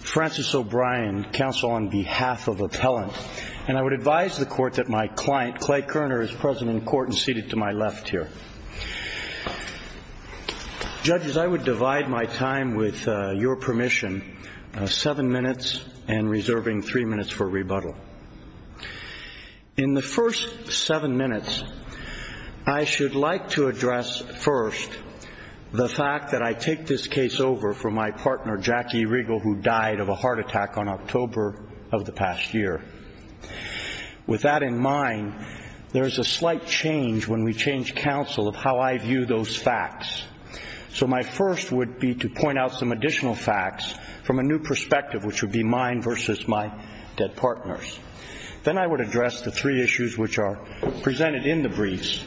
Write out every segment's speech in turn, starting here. Francis O'Brien, counsel on behalf of Appellant. Judges, I would divide my time with your permission, seven minutes and reserving three minutes for rebuttal. In the first seven minutes, I should like to address first the fact that I take this case over for my partner, Jackie Regal, who died of a heart attack on October of the past year. With that in mind, there is a slight change when we change counsel of how I view those facts. So my first would be to point out some additional facts from a new perspective, which would be mine versus my dead partner's. Then I would address the three issues which are presented in the briefs,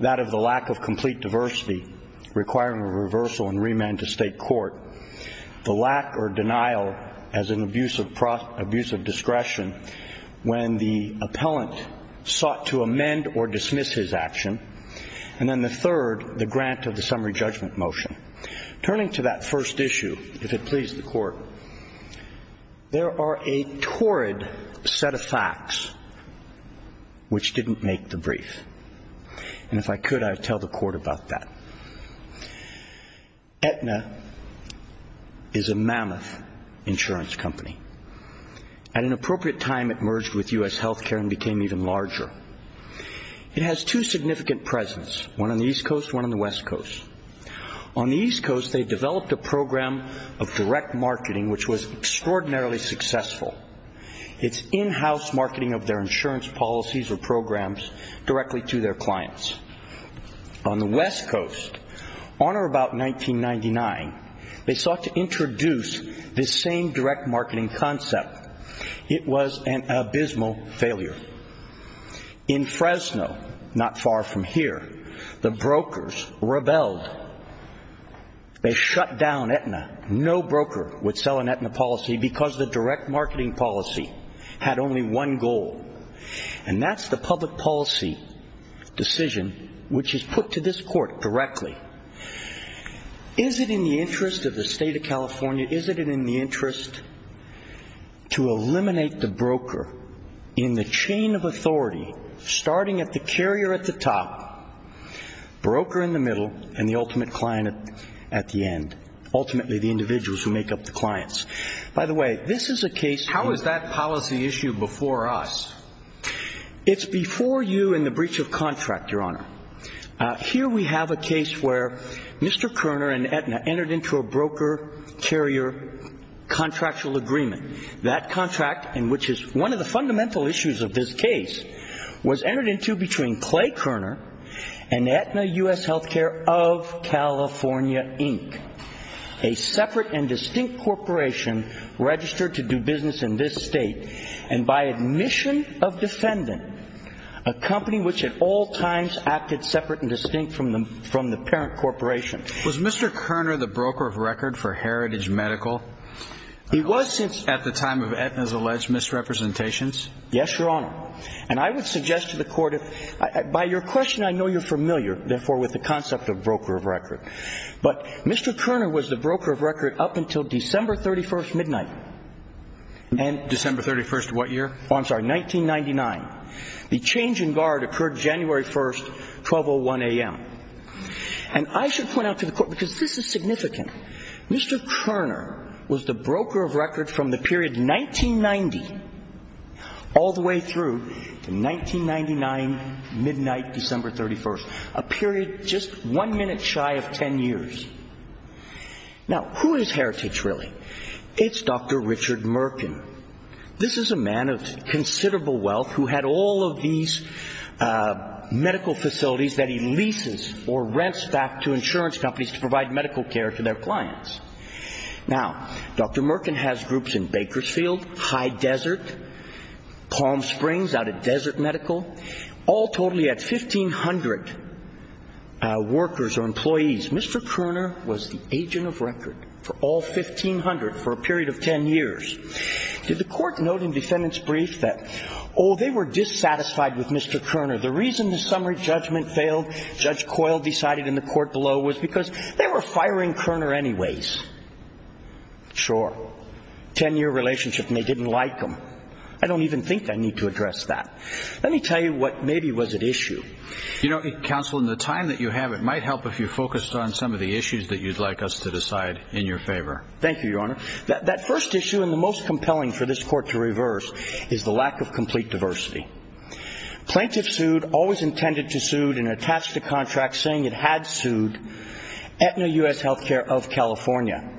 that of the lack of complete diversity requiring a reversal and remand to state court, the lack or denial as an abuse of discretion when the appellant sought to amend or dismiss his action, and then the third, the grant of the summary judgment motion. Turning to that first issue, if it please the Court, there are a torrid set of facts which didn't make the brief. And if I could, I would tell the Court about that. Aetna is a mammoth insurance company. At an appropriate time, it merged with U.S. health care and became even larger. It has two significant presence, one on the East Coast, one on the West Coast. On the East Coast, they developed a program of direct marketing which was extraordinarily successful. It's in-house marketing of their insurance policies or programs directly to their clients. On the West Coast, on or about 1999, they sought to introduce this same direct marketing concept. It was an abysmal failure. In Fresno, not far from here, the brokers rebelled. They shut down Aetna. No broker would sell an Aetna policy because the direct marketing policy had only one goal, and that's the public policy decision which is put to this Court directly. Is it in the interest of the state of California, is it in the interest to eliminate the broker in the chain of authority, starting at the carrier at the top, broker in the middle, and the ultimate client at the end? Ultimately, the individuals who make up the clients. By the way, this is a case. How is that policy issue before us? It's before you in the breach of contract, Your Honor. Here we have a case where Mr. Koerner and Aetna entered into a broker-carrier contractual agreement. That contract, which is one of the fundamental issues of this case, was entered into between Clay Koerner and Aetna U.S. Healthcare of California, Inc., a separate and distinct corporation registered to do business in this state, and by admission of defendant, a company which at all times acted separate and distinct from the parent corporation. Was Mr. Koerner the broker of record for Heritage Medical at the time of Aetna's alleged misrepresentations? Yes, Your Honor. And I would suggest to the Court, by your question I know you're familiar, therefore, with the concept of broker of record. But Mr. Koerner was the broker of record up until December 31st midnight. December 31st what year? Oh, I'm sorry, 1999. The change in guard occurred January 1st, 12.01 a.m. And I should point out to the Court, because this is significant, Mr. Koerner was the broker of record from the period 1990 all the way through to 1999, midnight, December 31st, a period just one minute shy of ten years. Now, who is Heritage really? It's Dr. Richard Merkin. This is a man of considerable wealth who had all of these medical facilities that he leases or rents back to insurance companies to provide medical care to their clients. Now, Dr. Merkin has groups in Bakersfield, High Desert, Palm Springs, out at Desert Medical, all totally at 1,500 workers or employees. Mr. Koerner was the agent of record for all 1,500 for a period of ten years. Did the Court note in defendant's brief that, oh, they were dissatisfied with Mr. Koerner? The reason the summary judgment failed, Judge Coyle decided in the Court below, was because they were firing Koerner anyways. Sure. Ten-year relationship and they didn't like him. I don't even think I need to address that. Let me tell you what maybe was at issue. You know, Counsel, in the time that you have, it might help if you focused on some of the issues that you'd like us to decide in your favor. Thank you, Your Honor. That first issue and the most compelling for this Court to reverse is the lack of complete diversity. Plaintiff sued, always intended to sue, and attached a contract saying it had sued, Aetna U.S. Healthcare of California.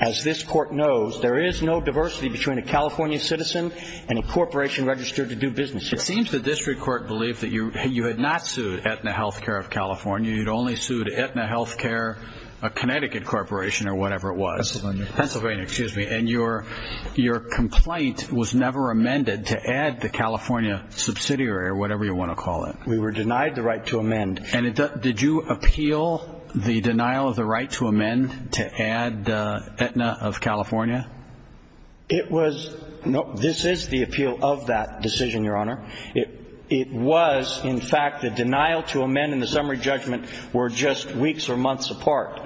As this Court knows, there is no diversity between a California citizen and a corporation registered to do business here. It seems the District Court believed that you had not sued Aetna Healthcare of California. You'd only sued Aetna Healthcare, a Connecticut corporation or whatever it was. Pennsylvania. Pennsylvania, excuse me. And your complaint was never amended to add the California subsidiary or whatever you want to call it. We were denied the right to amend. And did you appeal the denial of the right to amend to add Aetna of California? It was, no, this is the appeal of that decision, Your Honor. It was, in fact, the denial to amend and the summary judgment were just weeks or months apart.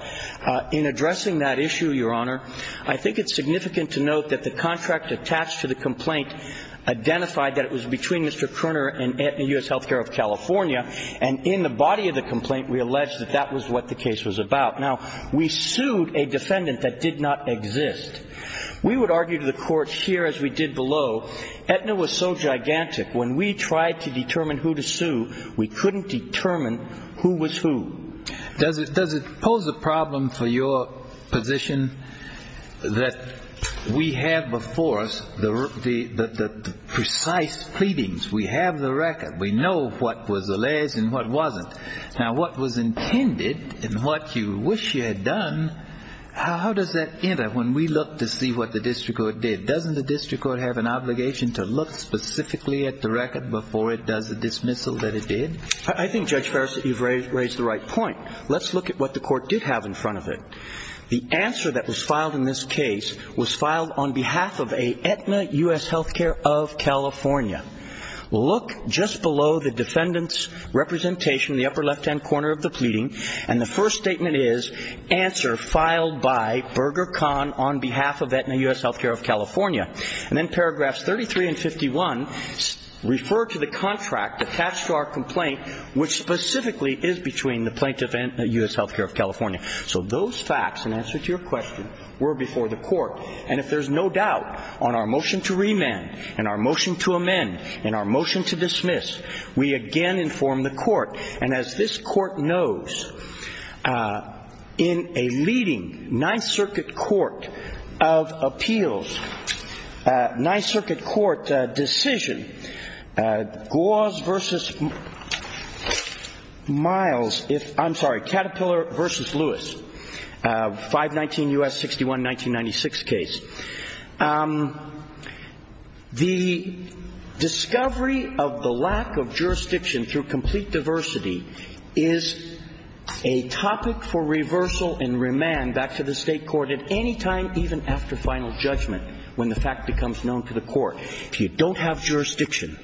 In addressing that issue, Your Honor, I think it's significant to note that the contract attached to the complaint identified that it was between Mr. Koerner and Aetna U.S. Healthcare of California, and in the body of the complaint we allege that that was what the case was about. Now, we sued a defendant that did not exist. We would argue to the Court here, as we did below, Aetna was so gigantic, when we tried to determine who to sue, we couldn't determine who was who. Does it pose a problem for your position that we have before us the precise pleadings? We have the record. We know what was alleged and what wasn't. Now, what was intended and what you wish you had done, how does that enter when we look to see what the district court did? Doesn't the district court have an obligation to look specifically at the record before it does the dismissal that it did? I think, Judge Farris, that you've raised the right point. Let's look at what the Court did have in front of it. The answer that was filed in this case was filed on behalf of Aetna U.S. Healthcare of California. Look just below the defendant's representation in the upper left-hand corner of the pleading, and the first statement is, answer filed by Berger-Kahn on behalf of Aetna U.S. Healthcare of California. And then paragraphs 33 and 51 refer to the contract attached to our complaint, which specifically is between the plaintiff and Aetna U.S. Healthcare of California. So those facts, in answer to your question, were before the Court. And if there's no doubt on our motion to remand and our motion to amend and our motion to dismiss, we again inform the Court. And as this Court knows, in a leading Ninth Circuit Court of appeals, Ninth Circuit Court decision, Gause v. Miles, I'm sorry, Caterpillar v. Lewis, 519 U.S. 61 1996 case, the discovery of the lack of jurisdiction through complete diversity is a topic for reversal and remand back to the State Court at any time, even after final judgment, when the fact becomes known to the Court. If you don't have jurisdiction,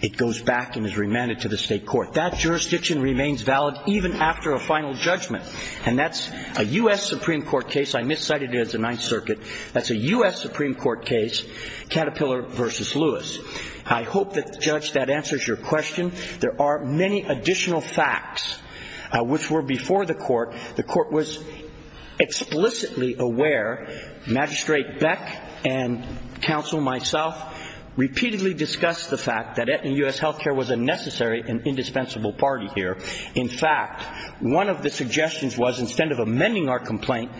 it goes back and is remanded to the State Court. That jurisdiction remains valid even after a final judgment, and that's a U.S. Supreme Court case. I miscited it as the Ninth Circuit. That's a U.S. Supreme Court case, Caterpillar v. Lewis. I hope that, Judge, that answers your question. There are many additional facts which were before the Court. The Court was explicitly aware, Magistrate Beck and counsel, myself, repeatedly discussed the fact that Aetna U.S. Healthcare was a necessary and indispensable party here. In fact, one of the suggestions was, instead of amending our complaint,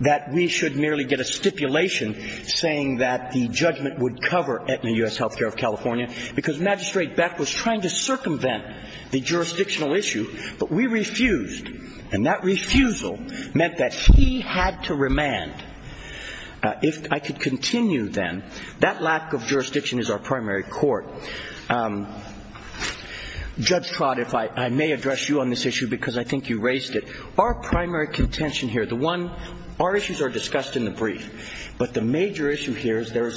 that we should merely get a stipulation saying that the judgment would cover Aetna U.S. Healthcare of California, because Magistrate Beck was trying to circumvent the jurisdictional issue, but we refused. And that refusal meant that he had to remand. If I could continue, then, that lack of jurisdiction is our primary court. Judge Trott, I may address you on this issue because I think you raised it. Our primary contention here, the one, our issues are discussed in the brief, but the major issue here is there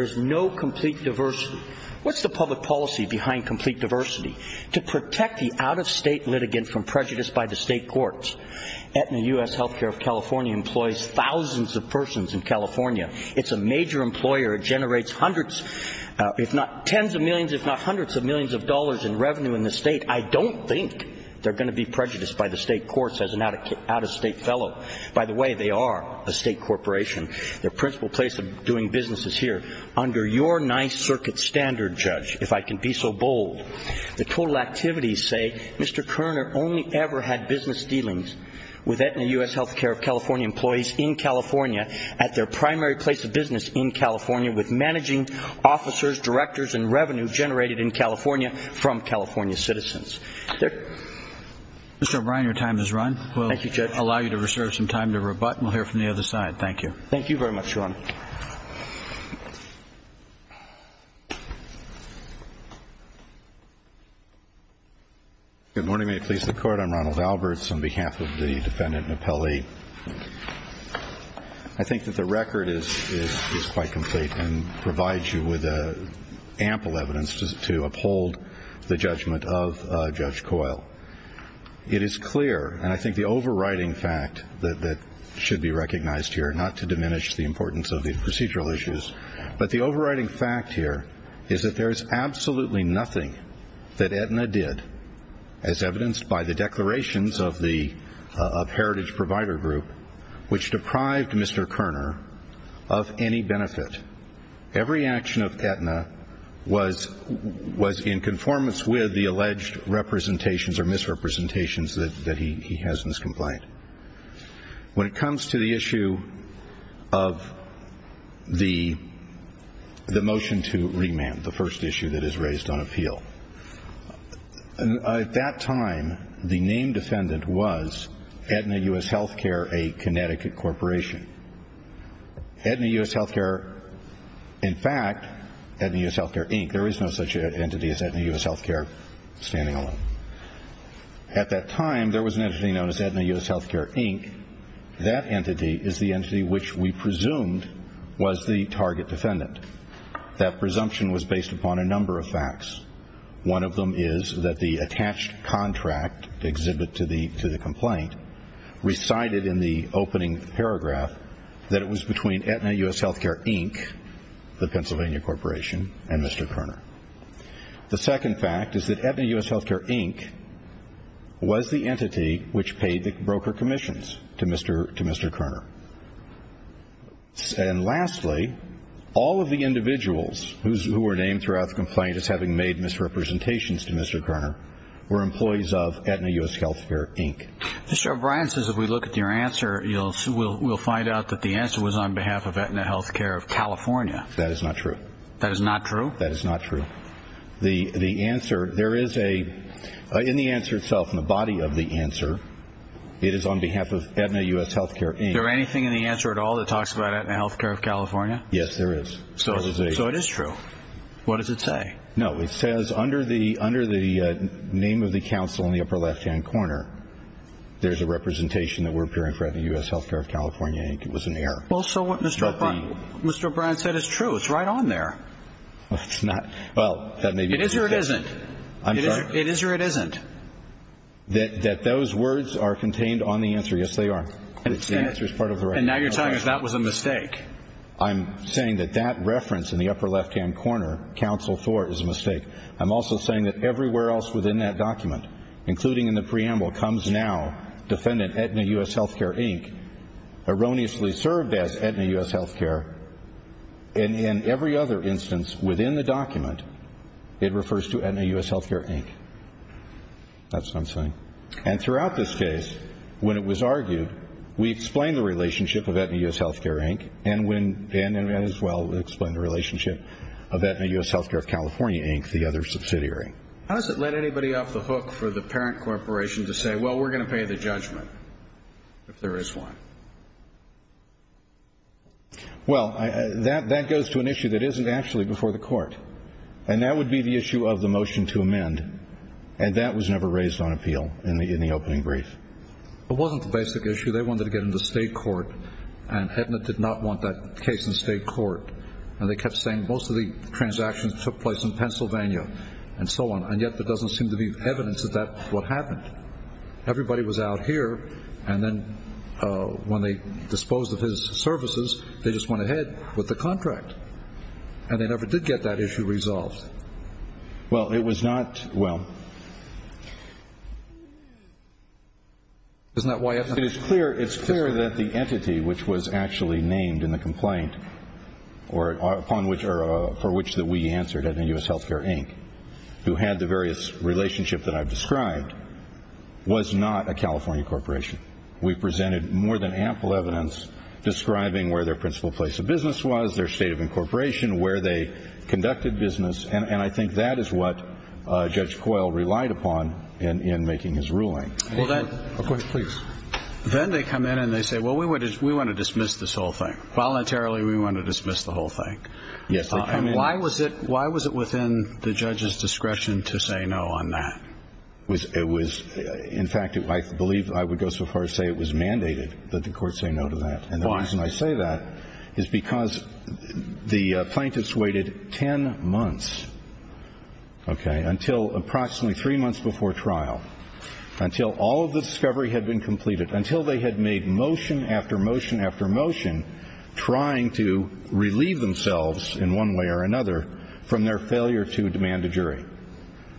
is no complete diversity. What's the public policy behind complete diversity? To protect the out-of-state litigant from prejudice by the state courts. Aetna U.S. Healthcare of California employs thousands of persons in California. It's a major employer. It generates hundreds, if not tens of millions, if not hundreds of millions of dollars in revenue in the state. I don't think they're going to be prejudiced by the state courts as an out-of-state fellow. By the way, they are a state corporation. Their principal place of doing business is here. Under your nice circuit standard, Judge, if I can be so bold, the total activities say Mr. Kerner only ever had business dealings with Aetna U.S. Healthcare of California employees in California at their primary place of business in California with managing officers, directors, and revenue generated in California from California citizens. Mr. O'Brien, your time has run. Thank you, Judge. We'll allow you to reserve some time to rebut, and we'll hear from the other side. Thank you. Thank you very much, Your Honor. Good morning. May it please the Court. I'm Ronald Alberts on behalf of the Defendant and Appellee. I think that the record is quite complete and provides you with ample evidence to uphold the judgment of Judge Coyle. It is clear, and I think the overriding fact that should be recognized here, not to diminish the importance of these proceedings, but the overriding fact here is that there is absolutely nothing that Aetna did, as evidenced by the declarations of Heritage Provider Group, which deprived Mr. Kerner of any benefit. Every action of Aetna was in conformance with the alleged representations or misrepresentations that he has in his complaint. When it comes to the issue of the motion to remand, the first issue that is raised on appeal, at that time the named defendant was Aetna U.S. Healthcare, a Connecticut corporation. Aetna U.S. Healthcare, in fact, Aetna U.S. Healthcare, Inc. There is no such entity as Aetna U.S. Healthcare standing alone. At that time, there was an entity known as Aetna U.S. Healthcare, Inc. That entity is the entity which we presumed was the target defendant. That presumption was based upon a number of facts. One of them is that the attached contract exhibit to the complaint recited in the opening paragraph that it was between Aetna U.S. Healthcare, Inc., the Pennsylvania corporation, and Mr. Kerner. The second fact is that Aetna U.S. Healthcare, Inc. was the entity which paid the broker commissions to Mr. Kerner. And lastly, all of the individuals who were named throughout the complaint as having made misrepresentations to Mr. Kerner were employees of Aetna U.S. Healthcare, Inc. Mr. O'Brien says if we look at your answer, we'll find out that the answer was on behalf of Aetna Healthcare of California. That is not true. That is not true? That is not true. The answer, there is a, in the answer itself, in the body of the answer, it is on behalf of Aetna U.S. Healthcare, Inc. Is there anything in the answer at all that talks about Aetna Healthcare of California? Yes, there is. So it is true. What does it say? No, it says under the name of the counsel in the upper left-hand corner, there's a representation that we're appearing for Aetna U.S. Healthcare of California, Inc. It was an error. Well, so what Mr. O'Brien said is true. It's right on there. It's not. Well, that may be true. It is or it isn't. I'm sorry? It is or it isn't. That those words are contained on the answer. Yes, they are. The answer is part of the right answer. And now you're telling us that was a mistake. I'm saying that that reference in the upper left-hand corner, counsel Thor, is a mistake. I'm also saying that everywhere else within that document, including in the preamble, comes now defendant Aetna U.S. Healthcare, Inc., erroneously served as Aetna U.S. Healthcare, and in every other instance within the document, it refers to Aetna U.S. Healthcare, Inc. That's what I'm saying. And throughout this case, when it was argued, we explained the relationship of Aetna U.S. Healthcare, Inc., and as well explained the relationship of Aetna U.S. Healthcare of California, Inc., the other subsidiary. How does it let anybody off the hook for the parent corporation to say, well, we're going to pay the judgment if there is one? Well, that goes to an issue that isn't actually before the court, and that would be the issue of the motion to amend, and that was never raised on appeal in the opening brief. It wasn't the basic issue. They wanted to get into state court, and Aetna did not want that case in state court. And they kept saying most of the transactions took place in Pennsylvania and so on, and yet there doesn't seem to be evidence that that's what happened. Everybody was out here, and then when they disposed of his services, they just went ahead with the contract, and they never did get that issue resolved. Well, it was not, well. Isn't that why Aetna? It's clear that the entity which was actually named in the complaint, or for which we answered at the U.S. Healthcare Inc., who had the various relationships that I've described, was not a California corporation. We presented more than ample evidence describing where their principal place of business was, their state of incorporation, where they conducted business, and I think that is what Judge Coyle relied upon in making his ruling. A question, please. Then they come in and they say, well, we want to dismiss this whole thing. Voluntarily we want to dismiss the whole thing. Yes, they come in. And why was it within the judge's discretion to say no on that? It was, in fact, I believe I would go so far as to say it was mandated that the court say no to that. And the reason I say that is because the plaintiffs waited 10 months, okay, until approximately three months before trial, until all of the discovery had been completed, until they had made motion after motion after motion trying to relieve themselves in one way or another from their failure to demand a jury.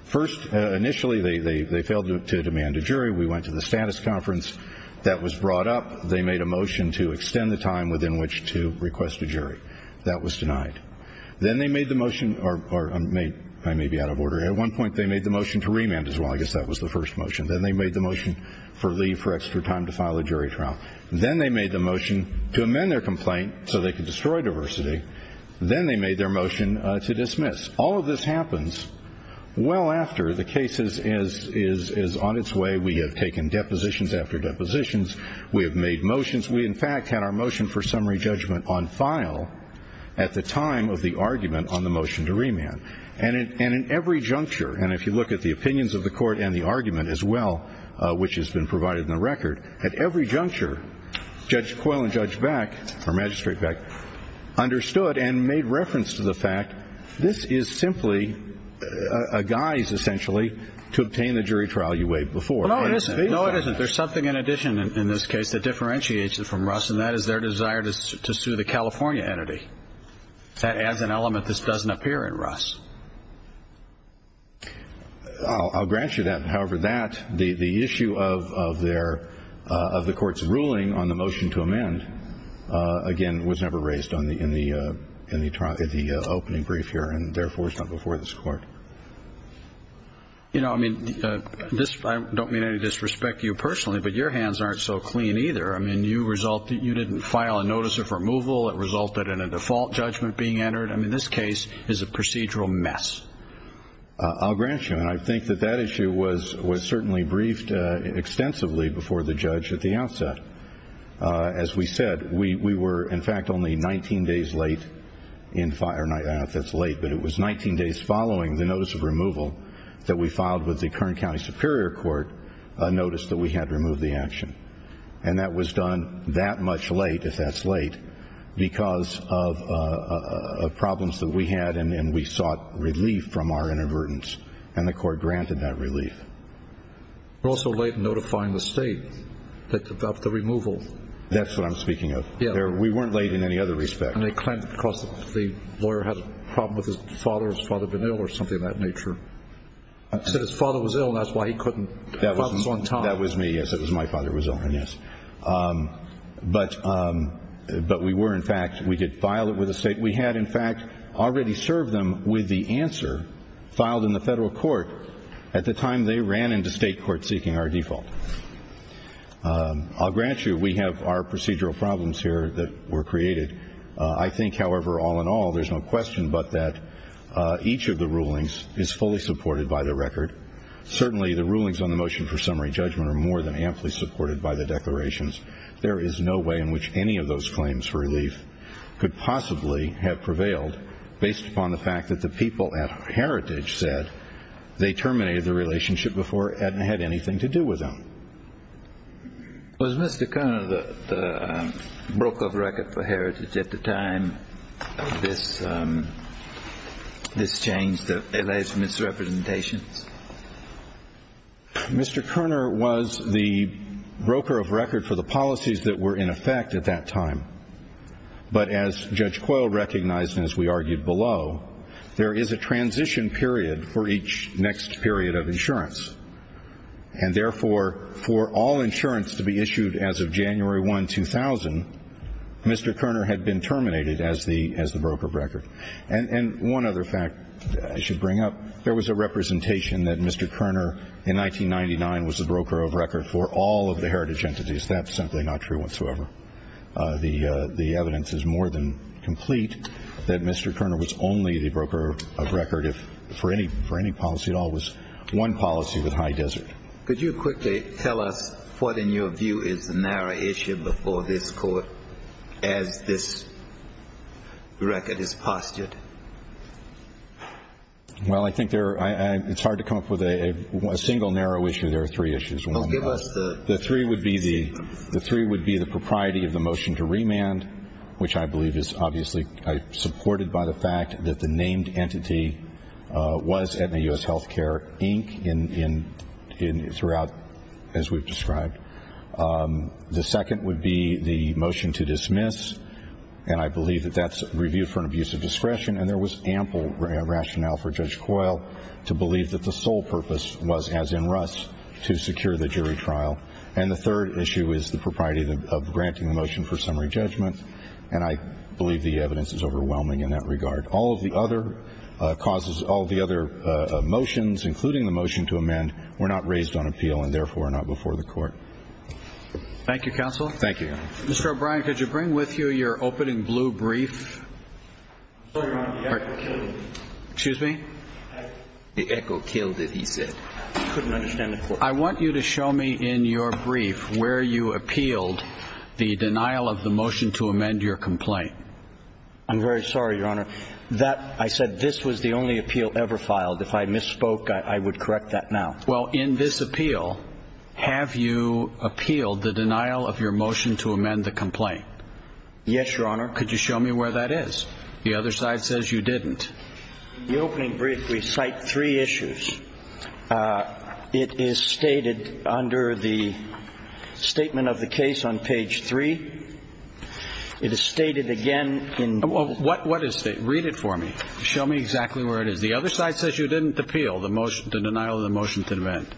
First, initially they failed to demand a jury. We went to the status conference. That was brought up. They made a motion to extend the time within which to request a jury. That was denied. Then they made the motion, or I may be out of order. At one point they made the motion to remand as well. I guess that was the first motion. Then they made the motion for leave for extra time to file a jury trial. Then they made the motion to amend their complaint so they could destroy diversity. Then they made their motion to dismiss. All of this happens well after the case is on its way. We have taken depositions after depositions. We have made motions. We, in fact, had our motion for summary judgment on file at the time of the argument on the motion to remand. In every juncture, and if you look at the opinions of the court and the argument as well, which has been provided in the record, at every juncture Judge Coyle and Judge Beck, or Magistrate Beck, understood and made reference to the fact this is simply a guise, essentially, to obtain the jury trial you waived before. No, it isn't. There's something in addition in this case that differentiates it from Russ, and that is their desire to sue the California entity. As an element, this doesn't appear in Russ. I'll grant you that. However, that, the issue of the court's ruling on the motion to amend, again, was never raised in the opening brief here and, therefore, is not before this court. You know, I mean, I don't mean to disrespect you personally, but your hands aren't so clean either. I mean, you didn't file a notice of removal. It resulted in a default judgment being entered. I mean, this case is a procedural mess. I'll grant you, and I think that that issue was certainly briefed extensively before the judge at the outset. As we said, we were, in fact, only 19 days late in filing. I don't know if that's late, but it was 19 days following the notice of removal that we filed with the Kern County Superior Court notice that we had removed the action. And that was done that much late, if that's late, because of problems that we had and we sought relief from our inadvertence. And the court granted that relief. We're also late in notifying the state of the removal. That's what I'm speaking of. We weren't late in any other respect. And they claimed because the lawyer had a problem with his father, his father had been ill or something of that nature. Said his father was ill and that's why he couldn't come on time. That was me. Yes, it was my father who was ill, yes. But we were, in fact, we did file it with the state. We had, in fact, already served them with the answer filed in the federal court at the time they ran into state court seeking our default. I'll grant you we have our procedural problems here that were created. I think, however, all in all, there's no question but that each of the rulings is fully supported by the record. Certainly the rulings on the motion for summary judgment are more than amply supported by the declarations. There is no way in which any of those claims for relief could possibly have prevailed based upon the fact that the people at Heritage said they terminated the relationship before it had anything to do with them. Was Mr. Kerner the broker of record for Heritage at the time of this change, the alleged misrepresentations? Mr. Kerner was the broker of record for the policies that were in effect at that time. But as Judge Coyle recognized and as we argued below, there is a transition period for each next period of insurance. And therefore, for all insurance to be issued as of January 1, 2000, Mr. Kerner had been terminated as the broker of record. And one other fact I should bring up, there was a representation that Mr. Kerner, in 1999, was the broker of record for all of the Heritage entities. That's simply not true whatsoever. The evidence is more than complete that Mr. Kerner was only the broker of record, if for any policy at all, was one policy with High Desert. Could you quickly tell us what, in your view, is the narrow issue before this Court as this record is postured? Well, I think it's hard to come up with a single narrow issue. There are three issues. The three would be the propriety of the motion to remand, which I believe is obviously supported by the fact that the named entity was at the U.S. Healthcare, Inc. throughout, as we've described. The second would be the motion to dismiss, and I believe that that's reviewed for an abuse of discretion. And there was ample rationale for Judge Coyle to believe that the sole purpose was, as in Russ, to secure the jury trial. And the third issue is the propriety of granting the motion for summary judgment, and I believe the evidence is overwhelming in that regard. All of the other causes, all of the other motions, including the motion to amend, were not raised on appeal and, therefore, are not before the Court. Thank you, Counsel. Thank you, Your Honor. Mr. O'Brien, could you bring with you your opening blue brief? I'm sorry, Your Honor, the echo killed it. Excuse me? The echo killed it, he said. I couldn't understand the question. I want you to show me in your brief where you appealed the denial of the motion to amend your complaint. I'm very sorry, Your Honor. I said this was the only appeal ever filed. If I misspoke, I would correct that now. Well, in this appeal, have you appealed the denial of your motion to amend the complaint? Yes, Your Honor. Could you show me where that is? The other side says you didn't. In the opening brief, we cite three issues. It is stated under the statement of the case on page 3. It is stated again in the statement. What is it? Read it for me. Show me exactly where it is. The other side says you didn't appeal the motion, the denial of the motion to amend.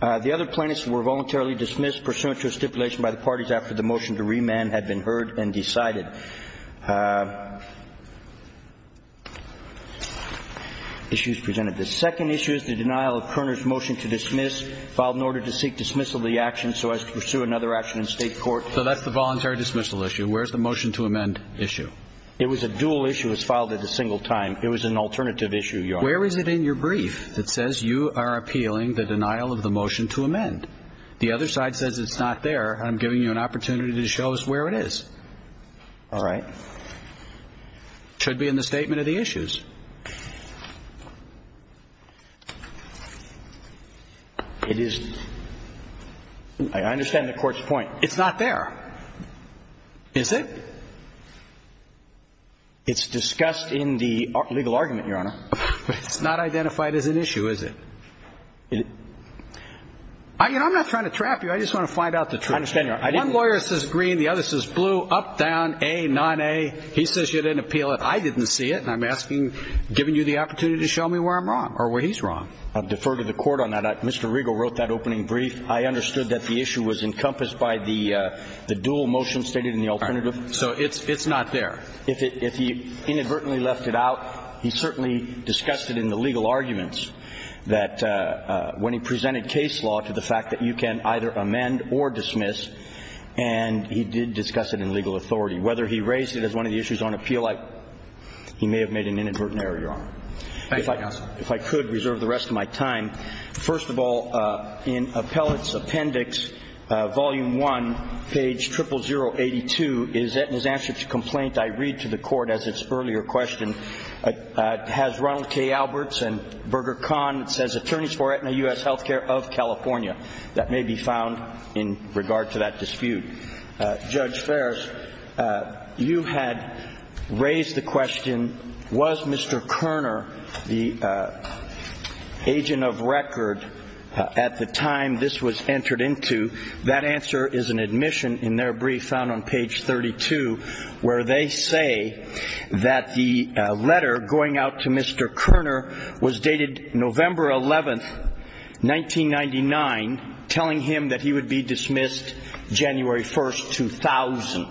The other plaintiffs were voluntarily dismissed pursuant to a stipulation by the parties after the motion to remand had been heard and decided. Issues presented. The second issue is the denial of Kerner's motion to dismiss, filed in order to seek dismissal of the action so as to pursue another action in state court. So that's the voluntary dismissal issue. Where's the motion to amend issue? It was a dual issue. It was filed at a single time. It was an alternative issue, Your Honor. Where is it in your brief that says you are appealing the denial of the motion to amend? The other side says it's not there. I'm giving you an opportunity to show us where it is. All right. It should be in the statement of the issues. It is. I understand the court's point. It's not there. Is it? It's discussed in the legal argument, Your Honor. It's not identified as an issue, is it? I'm not trying to trap you. I just want to find out the truth. I understand, Your Honor. One lawyer says green. The other says blue, up, down, A, non-A. He says you didn't appeal it. I didn't see it. And I'm asking, giving you the opportunity to show me where I'm wrong or where he's wrong. I defer to the court on that. Mr. Riegel wrote that opening brief. I understood that the issue was encompassed by the dual motion stated in the alternative. So it's not there. If he inadvertently left it out, he certainly discussed it in the legal arguments, that when he presented case law to the fact that you can either amend or dismiss, and he did discuss it in legal authority. Whether he raised it as one of the issues on appeal, he may have made an inadvertent error, Your Honor. Thank you, counsel. If I could reserve the rest of my time. First of all, in Appellate's Appendix, Volume 1, page 00082, in his answer to the complaint, I read to the court as its earlier question, has Ronald K. Alberts and Berger Kahn, it says, attorneys for Aetna U.S. Healthcare of California. That may be found in regard to that dispute. Judge Fares, you had raised the question, was Mr. Kerner the agent of record at the time this was entered into? That answer is an admission in their brief found on page 32, where they say that the letter going out to Mr. Kerner was dated November 11th, 1999, telling him that he would be dismissed January 1st, 2000.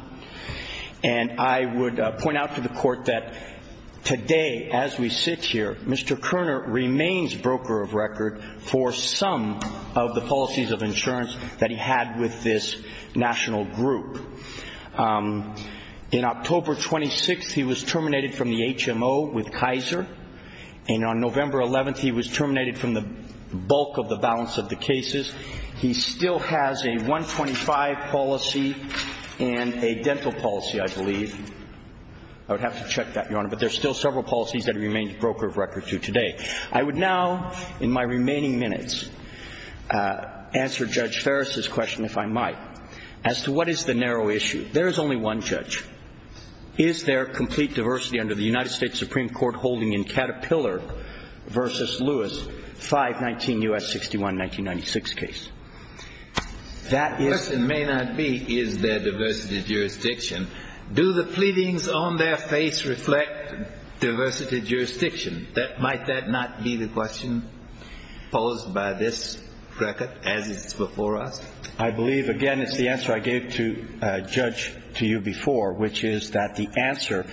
And I would point out to the court that today, as we sit here, Mr. Kerner remains broker of record for some of the policies of insurance that he had with this national group. In October 26th, he was terminated from the HMO with Kaiser. And on November 11th, he was terminated from the bulk of the balance of the cases. He still has a 125 policy and a dental policy, I believe. I would have to check that, Your Honor. But there's still several policies that he remains broker of record to today. I would now, in my remaining minutes, answer Judge Fares' question, if I might, as to what is the narrow issue. There is only one judge. Is there complete diversity under the United States Supreme Court holding in Caterpillar v. Lewis, 5-19 U.S. 61-1996 case? The question may not be, is there diversity jurisdiction? Do the pleadings on their face reflect diversity jurisdiction? Might that not be the question posed by this record, as it's before us? I believe, again, it's the answer I gave to a judge to you before, which is that the answer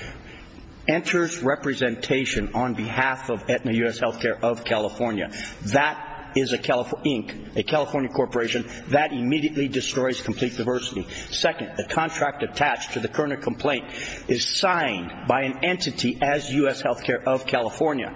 enters representation on behalf of Aetna U.S. Healthcare of California. That is a California corporation. That immediately destroys complete diversity. Second, the contract attached to the Kerner complaint is signed by an entity as U.S. Healthcare of California.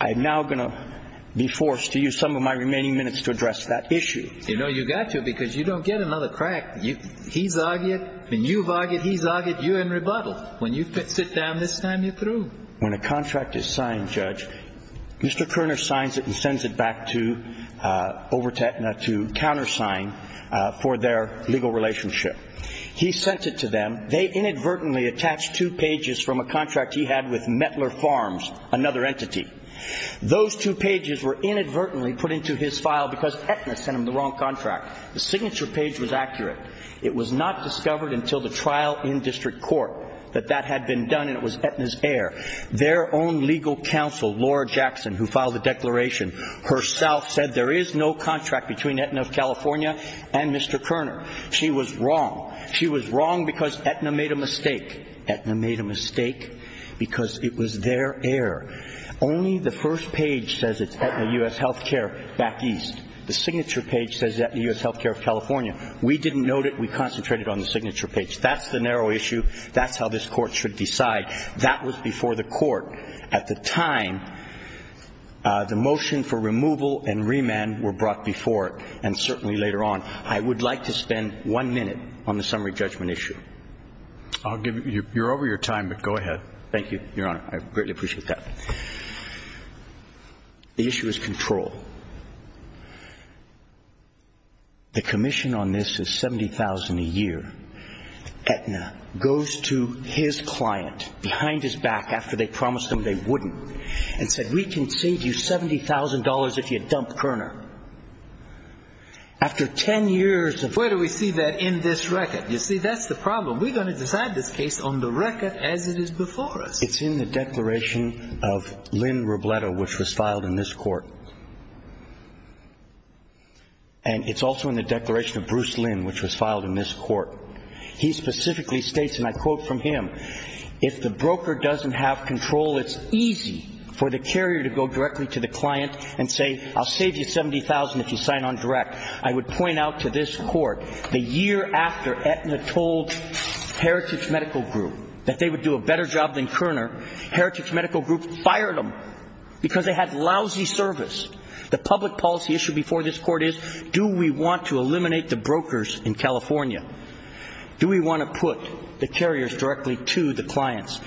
I'm now going to be forced to use some of my remaining minutes to address that issue. You know, you got to, because you don't get another crack. He's argued, and you've argued, he's argued, you're in rebuttal. When you sit down this time, you're through. When a contract is signed, Judge, Mr. Kerner signs it and sends it back to, over to Aetna to countersign for their legal relationship. He sent it to them. They inadvertently attached two pages from a contract he had with Mettler Farms, another entity. Those two pages were inadvertently put into his file because Aetna sent him the wrong contract. The signature page was accurate. It was not discovered until the trial in district court that that had been done and it was Aetna's heir. Their own legal counsel, Laura Jackson, who filed the declaration herself, said there is no contract between Aetna of California and Mr. Kerner. She was wrong. She was wrong because Aetna made a mistake. Aetna made a mistake because it was their heir. Only the first page says it's Aetna U.S. Healthcare back east. The signature page says it's Aetna U.S. Healthcare of California. We didn't note it. We concentrated on the signature page. That's the narrow issue. That's how this Court should decide. That was before the Court. At the time, the motion for removal and remand were brought before it and certainly later on. I would like to spend one minute on the summary judgment issue. I'll give you ñ you're over your time, but go ahead. Thank you, Your Honor. I greatly appreciate that. The issue is control. The commission on this is $70,000 a year. Aetna goes to his client behind his back after they promised him they wouldn't and said, We can save you $70,000 if you dump Kerner. After 10 years ofó Where do we see that in this record? You see, that's the problem. We're going to decide this case on the record as it is before us. It's in the declaration of Lynn Robledo, which was filed in this Court. And it's also in the declaration of Bruce Lynn, which was filed in this Court. He specifically states, and I quote from him, If the broker doesn't have control, it's easy for the carrier to go directly to the client and say, I'll save you $70,000 if you sign on direct. I would point out to this Court, the year after Aetna told Heritage Medical Group that they would do a better job than Kerner, Heritage Medical Group fired them because they had lousy service. The public policy issue before this Court is, do we want to eliminate the brokers in California? Do we want to put the carriers directly to the clients?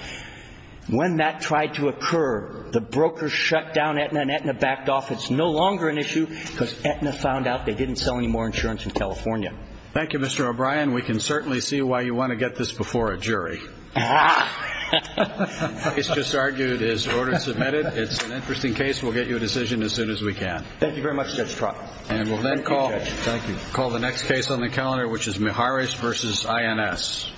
When that tried to occur, the brokers shut down Aetna and Aetna backed off. It's no longer an issue because Aetna found out they didn't sell any more insurance in California. Thank you, Mr. O'Brien. We can certainly see why you want to get this before a jury. The case just argued is order submitted. It's an interesting case. We'll get you a decision as soon as we can. Thank you very much, Judge Trott. And we'll then call the next case on the calendar, which is Miharis v. INS.